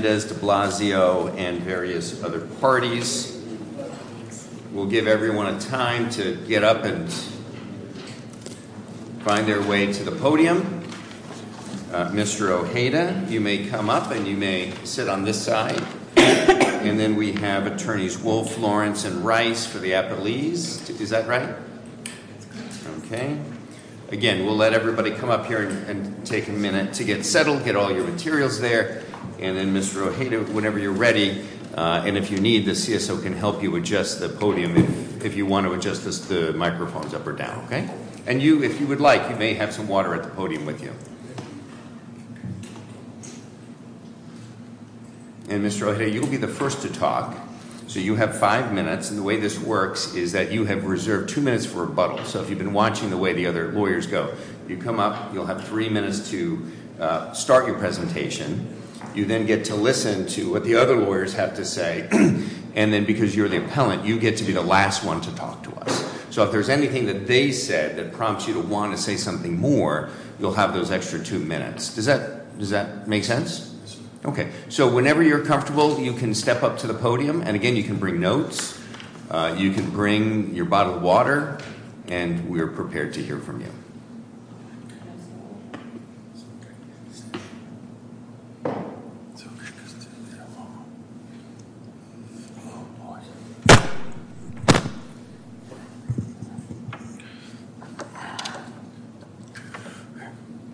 de Blasio and various other parties. We'll give everyone a time to get up and find their way to the podium. Mr. Ojeda, you may come up and you may sit on this side. And then we have attorneys Wolfe, Lawrence, and Rice for the appellees. Is that right? Okay. Again, we'll let everybody come up here and take a minute to get settled, get all your materials there. And then Mr. Ojeda, whenever you're ready, and if you need, the CSO can help you adjust the podium if you want to adjust the microphones up or down, okay? And you, if you would like, you may have some water at the podium with you. And Mr. Ojeda, you will be the first to talk. So you have five minutes. And the way this works is that you have reserved two minutes for rebuttal. So if you've been watching the way the other lawyers go, you come up, you'll have three minutes to start your presentation. You then get to listen to what the other lawyers have to say. And then because you're the appellant, you get to be the last one to talk to us. So if there's anything that they said that prompts you to want to say something more, you'll have those extra two minutes. Does that make sense? Okay. So whenever you're comfortable, you can step up to the podium. And again, you can bring notes. You can bring your bottle of water. And we're prepared to hear from you.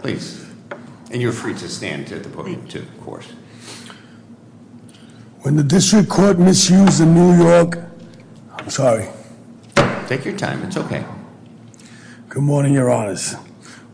Please. And you're free to stand at the podium, too, of course. When the district court misused the New York... I'm sorry. Take your time. It's okay. Good morning, your honors.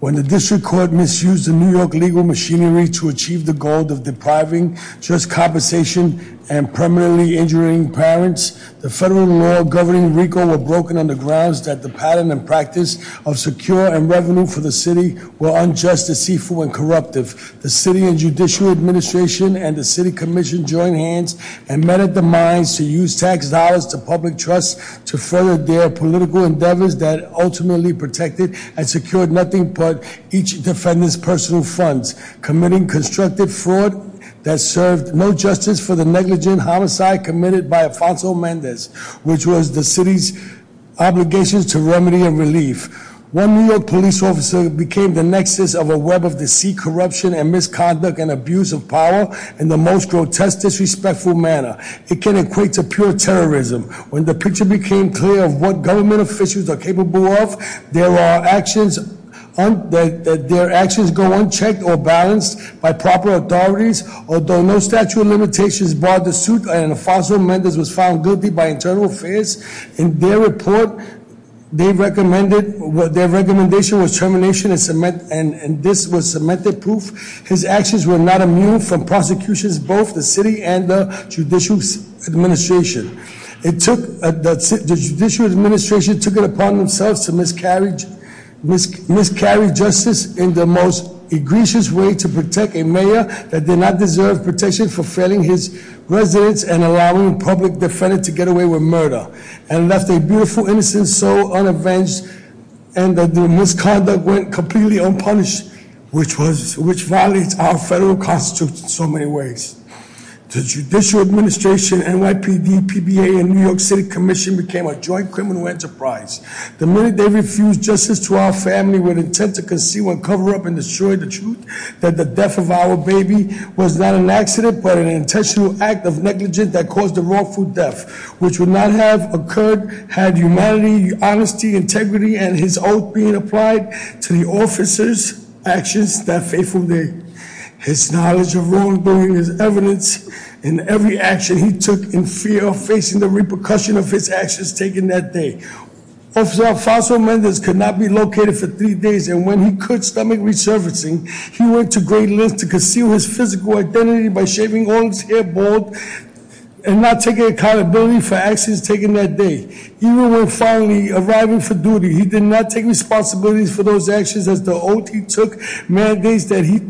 When the district court misused the New York legal machinery to achieve the goal of depriving just compensation and permanently injuring parents, the federal law governing RICO were broken on the grounds that the pattern and practice of secure and revenue for the city were unjust, deceitful, and corruptive. The city and judicial administration and the city commission joined hands and met at the mines to use tax dollars to public trust to further their political endeavors that ultimately protected and secured nothing but each defendant's personal funds, committing constructive fraud that served no justice for the negligent homicide committed by Alfonso Mendez, which was the city's obligations to remedy and relief. One New York police officer became the nexus of a web of deceit, corruption, and misconduct and abuse of power in the most grotesque, disrespectful manner. It can equate to pure terrorism. When the picture became clear of what government officials are capable of, their actions go unchecked or balanced by proper authorities. Although no statute of limitations brought the suit, Alfonso Mendez was found guilty by internal affairs. In their report, their recommendation was termination and this was cemented proof. His actions were not immune from prosecutions, both the city and the judicial administration. The judicial administration took it upon themselves to miscarry justice in the most egregious way to protect a mayor that did not deserve protection for failing his residents and allowing public defendants to get away with murder, and left a beautiful, innocent soul unavenged, and the misconduct went completely unpunished, which violates our federal constitution in so many ways. The judicial administration, NYPD, PBA, and New York City Commission became a joint criminal enterprise. The minute they refused justice to our family with intent to conceal and cover up and destroy the truth, that the death of our baby was not an accident, but an intentional act of negligence that caused a wrongful death, which would not have occurred had humanity, honesty, integrity, and his oath being applied to the officer's actions that fateful day. His knowledge of wrongdoing is evidence in every action he took in fear of facing the repercussion of his actions taken that day. Officer Alfonso Mendez could not be located for three days and when he could stomach resurfacing, he went to great lengths to conceal his physical identity by shaving all his hair and not taking accountability for actions taken that day. Even when finally arriving for duty, he did not take responsibilities for those actions as the oath he took mandates that he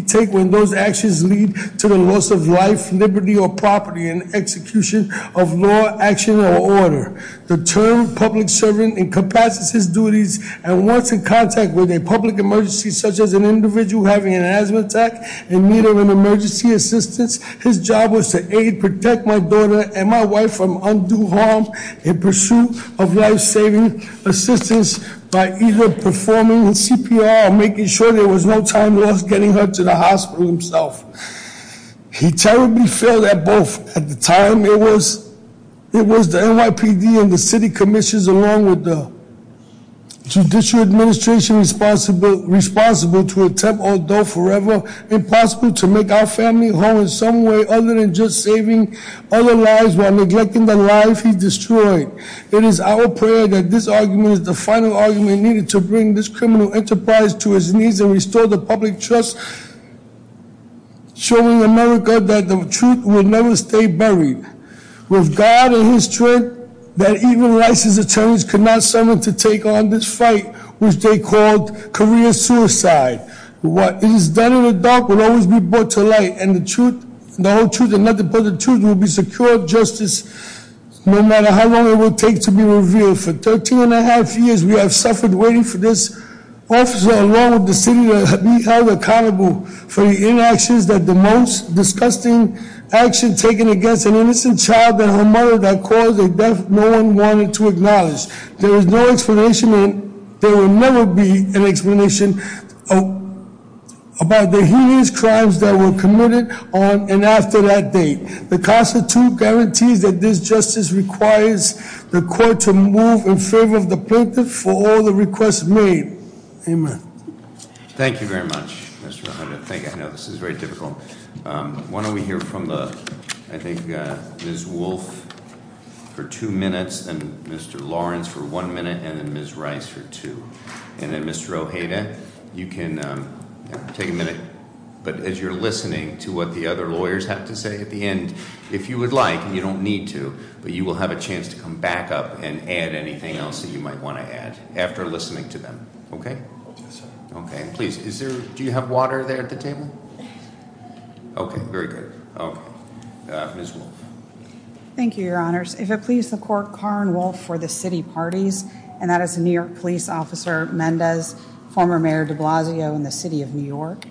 take when those actions lead to the loss of life, liberty, or property in execution of law, action, or order. The term public servant incapacitates his duties and once in contact with a public emergency, such as an individual having an asthma attack, in need of an emergency, his job was to aid, protect my daughter and my wife from undue harm in pursuit of life-saving assistance by either performing CPR or making sure there was no time lost getting her to the hospital himself. He terribly failed at both at the time. It was the NYPD and the city commissions along with the judicial administration responsible to attempt, although forever, impossible to make our family home in some way other than just saving other lives while neglecting the life he destroyed. It is our prayer that this argument is the final argument needed to bring this criminal enterprise to its knees and restore the public trust, showing America that the truth will never stay buried. With God and his strength, that even licensed attorneys could not summon to take on this fight, which they called career suicide. What is done in the dark will always be brought to light and the truth, the whole truth and nothing but the truth will be secured justice no matter how long it will take to be revealed. For 13 and a half years, we have suffered waiting for this officer along with the city to be held accountable for the inactions that the most disgusting action taken against an innocent child and her mother that caused a death no one wanted to acknowledge. There is no explanation and there will never be an explanation about the heinous crimes that were committed on and after that date. The Constitution guarantees that this justice requires the court to move in favor of the plaintiff for all the requests made. Amen. Thank you very much, Mr. Hunter. Thank you. I know this is very difficult. Why don't we hear from the, I think Ms. Wolf for two minutes and Mr. Lawrence for one minute and then Ms. Rice for two. And then Mr. Ojeda, you can take a minute, but as you're listening to what the other lawyers have to say at the end, if you would like, and you don't need to, but you will have a chance to come back up and add anything else that you might want to add after listening to them. Okay. Okay. Please. Do you have water there at the table? Okay. Very good. Ms. Wolf. Thank you, your honors. If it please the court, Karin Wolf for the city parties and that is a New York police officer, Mendez, former mayor de Blasio in the city of New York.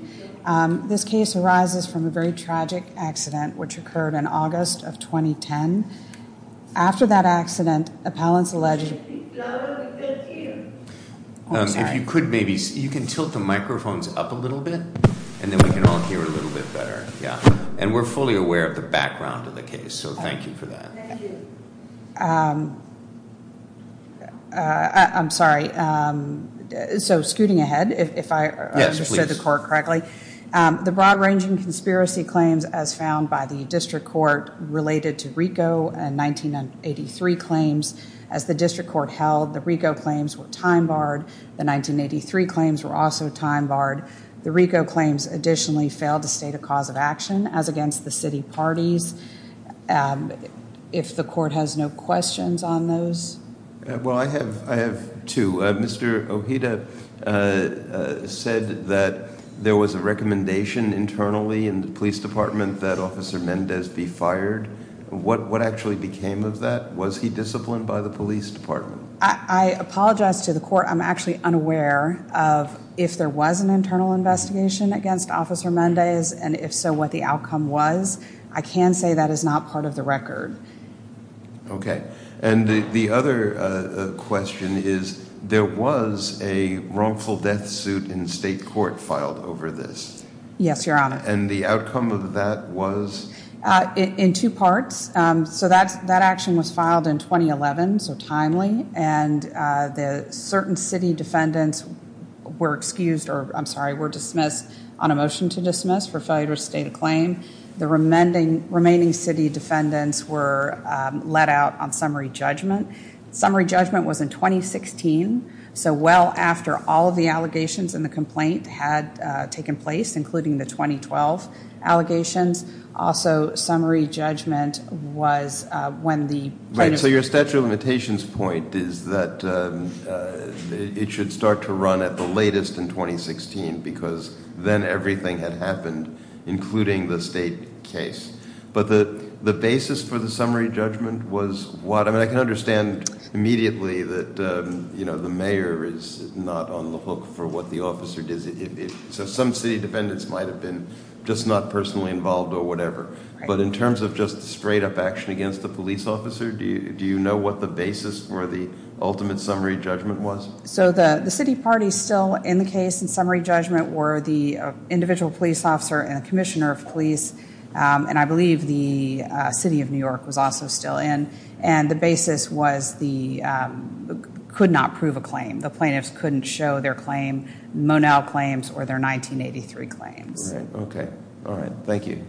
This case arises from a very tragic accident, which occurred in August of 2010. After that accident, appellants alleged. If you could maybe, you can tilt the microphones up a little bit and then we can all hear a little bit better. Yeah. And we're fully aware of the background of the case. So thank you for that. Um, uh, I'm sorry. Um, so scooting ahead, if I understood the court correctly, um, the broad ranging conspiracy claims as found by the district court related to Rico and 1983 claims as the district court held the Rico claims were time barred. The 1983 claims were also time barred. The Rico claims additionally failed to state a cause of action as The court has no questions on those. Well, I have I have to Mr. Oh, he said that there was a recommendation internally in the police department that officer Mendez be fired. What? What actually became of that? Was he disciplined by the police department? I apologize to the court. I'm actually unaware of if there was an internal investigation against officer Mondays, and if so, what the outcome was. I can say that is not part of the record. Okay. And the other question is, there was a wrongful death suit in state court filed over this. Yes, Your Honor. And the outcome of that was in two parts. So that's that action was filed in 2011. So timely. And the certain city defendants were excused or I'm sorry, were dismissed on a motion to dismiss for failure to state a claim. The remaining remaining city defendants were let out on summary judgment. Summary judgment was in 2016 so well after all of the allegations in the complaint had taken place, including the 2012 allegations. Also, summary judgment was when the right. So your statute of limitations point is that it should start to run at the latest in 2016 because then everything had happened, including the state case. But the basis for the summary judgment was what I can understand immediately that you know, the mayor is not on the hook for what the officer does it. So some city defendants might have been just not personally involved or whatever. But in terms of just straight up action against the police officer, do you know what the basis for the ultimate summary judgment was? Okay. All right. Thank you.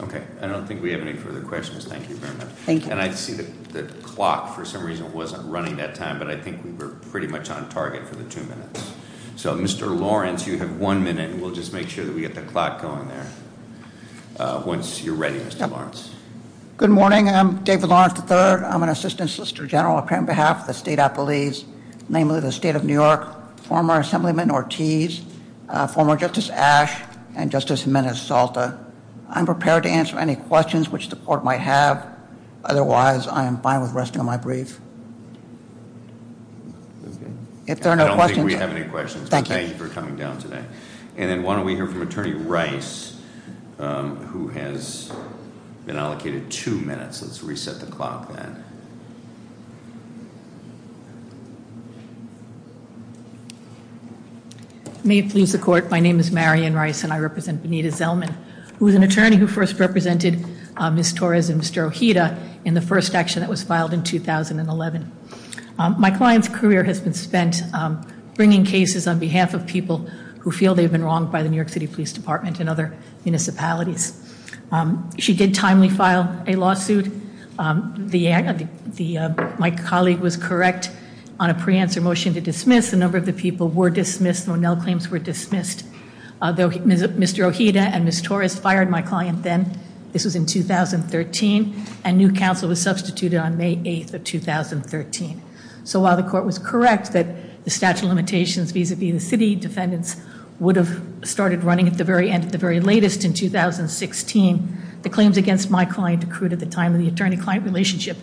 Okay. I don't think we have any further questions. Thank you very much. Thank you. And I see that the clock for some reason wasn't running that time, but I think we were pretty much on time. Target for the two minutes. So, Mr. Lawrence, you have one minute. We'll just make sure that we get the clock going there. Once you're ready, Mr. Lawrence. Good morning. I'm David Lawrence, the third. I'm an assistant Solicitor General on behalf of the state. I believe namely the state of New York, former Assemblyman Ortiz, former Justice Ash and Justice Salta. I'm prepared to answer any questions which the court might have. Otherwise, I am fine with resting on my brief. I don't think we have any questions. Thank you for coming down today. And then why don't we hear from Attorney Rice, who has been allocated two minutes. Let's reset the clock then. May it please the court. My name is Marion Rice and I represent Benita Zellman, who is an attorney who first represented Ms. Torres and Mr. Ojeda in the first action that was filed in 2011. My client's career has been spent bringing cases on behalf of people who feel they've been wronged by the New York City Police Department and other municipalities. She did timely file a lawsuit. My colleague was correct on a pre-answer motion to dismiss. A number of the people were dismissed. No claims were dismissed. Mr. Ojeda and Ms. Torres fired my client then. This was in 2013 and new counsel was substituted on May 8th of 2013. So while the court was correct that the statute of limitations vis-a-vis the city defendants would have started running at the very end of the very latest in 2016, the claims against my client accrued at the time of the attorney-client relationship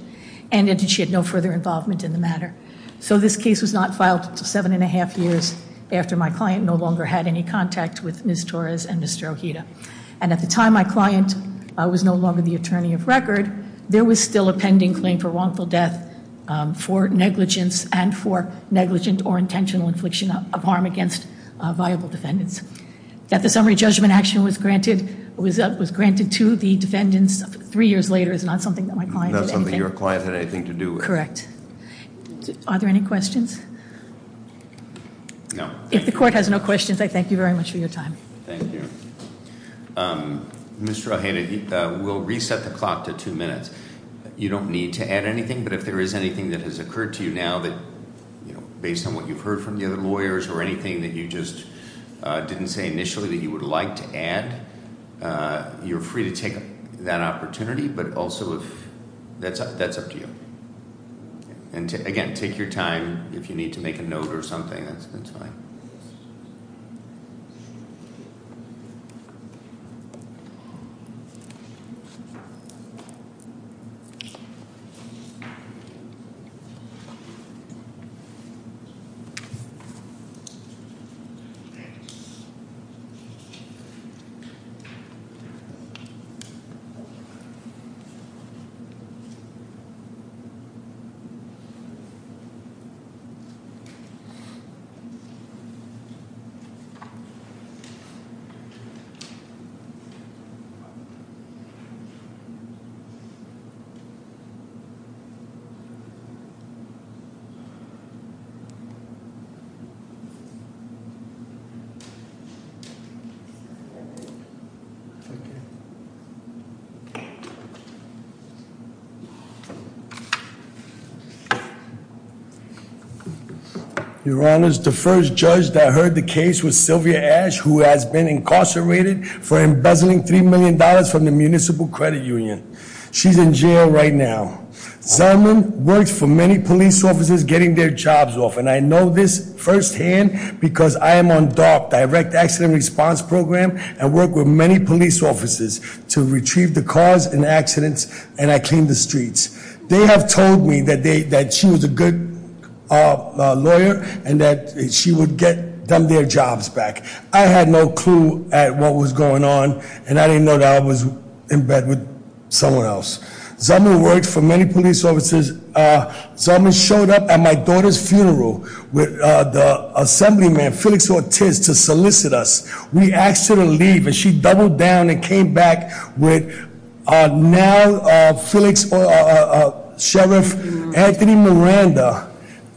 and she had no further involvement in the matter. So this case was not filed until seven and a half years after my client no longer had any contact with Ms. Torres and Mr. Ojeda. And at the time my client was no longer the attorney of record, there was still a pending claim for wrongful death, for negligence, and for negligent or intentional infliction of harm against viable defendants. That the summary judgment action was granted to the defendants three years later is not something that my client did anything- That's not something your client had anything to do with. Correct. Are there any questions? No. If the court has no questions, I thank you very much for your time. Thank you. Mr. Ojeda, we'll reset the clock to two minutes. You don't need to add anything, but if there is anything that has occurred to you now that, you know, based on what you've heard from the other lawyers or anything that you just didn't say initially that you would like to add, you're free to take that opportunity, but also if that's up to you. And again, take your time. If you need to make a note or something, that's fine. Thank you. Your Honor, the first judge that heard the case was Sylvia Ash, who has been incarcerated for embezzling $3 million from the Municipal Credit Union. She's in jail right now. Zellman worked for many police officers getting their jobs off. And I know this firsthand because I am on DOC, Direct Accident Response Program, and work with many police officers to retrieve the cars in accidents, and I clean the streets. They have told me that she was a good lawyer and that she would get them their jobs back. I had no clue at what was going on, and I didn't know that I was in bed with someone else. Zellman worked for many police officers. Zellman showed up at my daughter's funeral with the assemblyman, Felix Ortiz, to solicit us. We asked her to leave, and she doubled down and came back with now Felix, or Sheriff Anthony Miranda,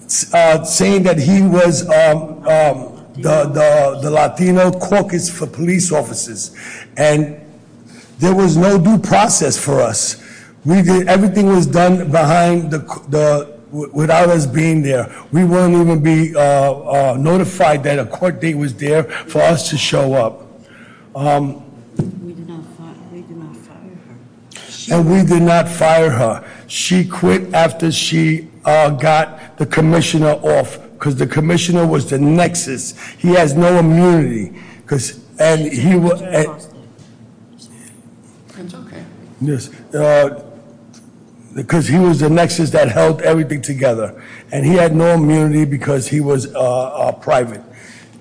saying that he was the Latino caucus for police officers. And there was no due process for us. Everything was done without us being there. We wouldn't even be notified that a court date was there for us to show up. And we did not fire her. She quit after she got the commissioner off because the commissioner was the nexus. He has no immunity because he was the nexus that held everything together, and he had no immunity because he was private.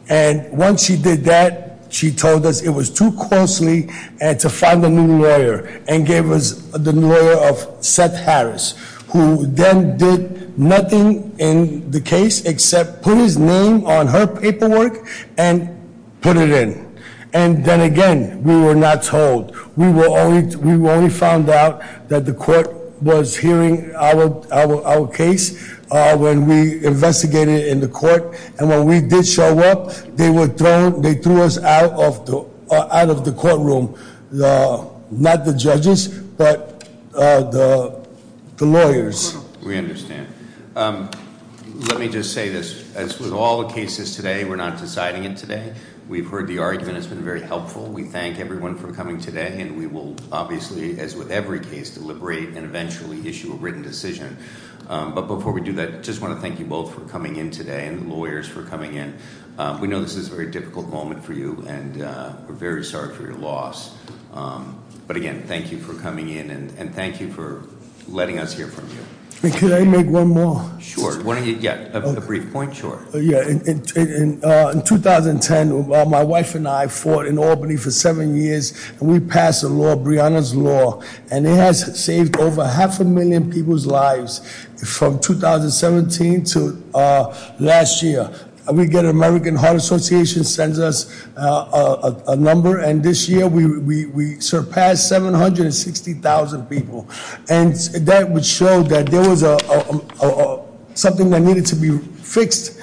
And once she did that, she told us it was too closely to find a new lawyer, and gave us the lawyer of Seth Harris, who then did nothing in the case except put his name on her paperwork and put it in. And then again, we were not told. We only found out that the court was hearing our case when we investigated in the court. And when we did show up, they threw us out of the courtroom, not the judges, but the lawyers. We understand. Let me just say this. As with all the cases today, we're not deciding it today. We've heard the argument. It's been very helpful. We thank everyone for coming today, and we will obviously, as with every case, deliberate and eventually issue a written decision. But before we do that, I just want to thank you both for coming in today, and the lawyers for coming in. We know this is a very difficult moment for you, and we're very sorry for your loss. But again, thank you for coming in, and thank you for letting us hear from you. Can I make one more? Sure. Yeah, a brief point, sure. In 2010, my wife and I fought in Albany for seven years, and we passed a law, Brianna's Law. And it has saved over half a million people's lives from 2017 to last year. We get American Heart Association sends us a number, and this year we surpassed 760,000 people. And that would show that there was something that needed to be fixed,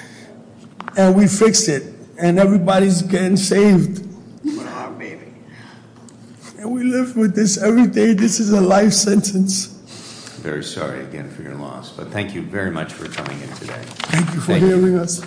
and we fixed it. And everybody's getting saved. Wow, baby. And we live with this every day. This is a life sentence. Very sorry, again, for your loss. But thank you very much for coming in today. Thank you for hearing us.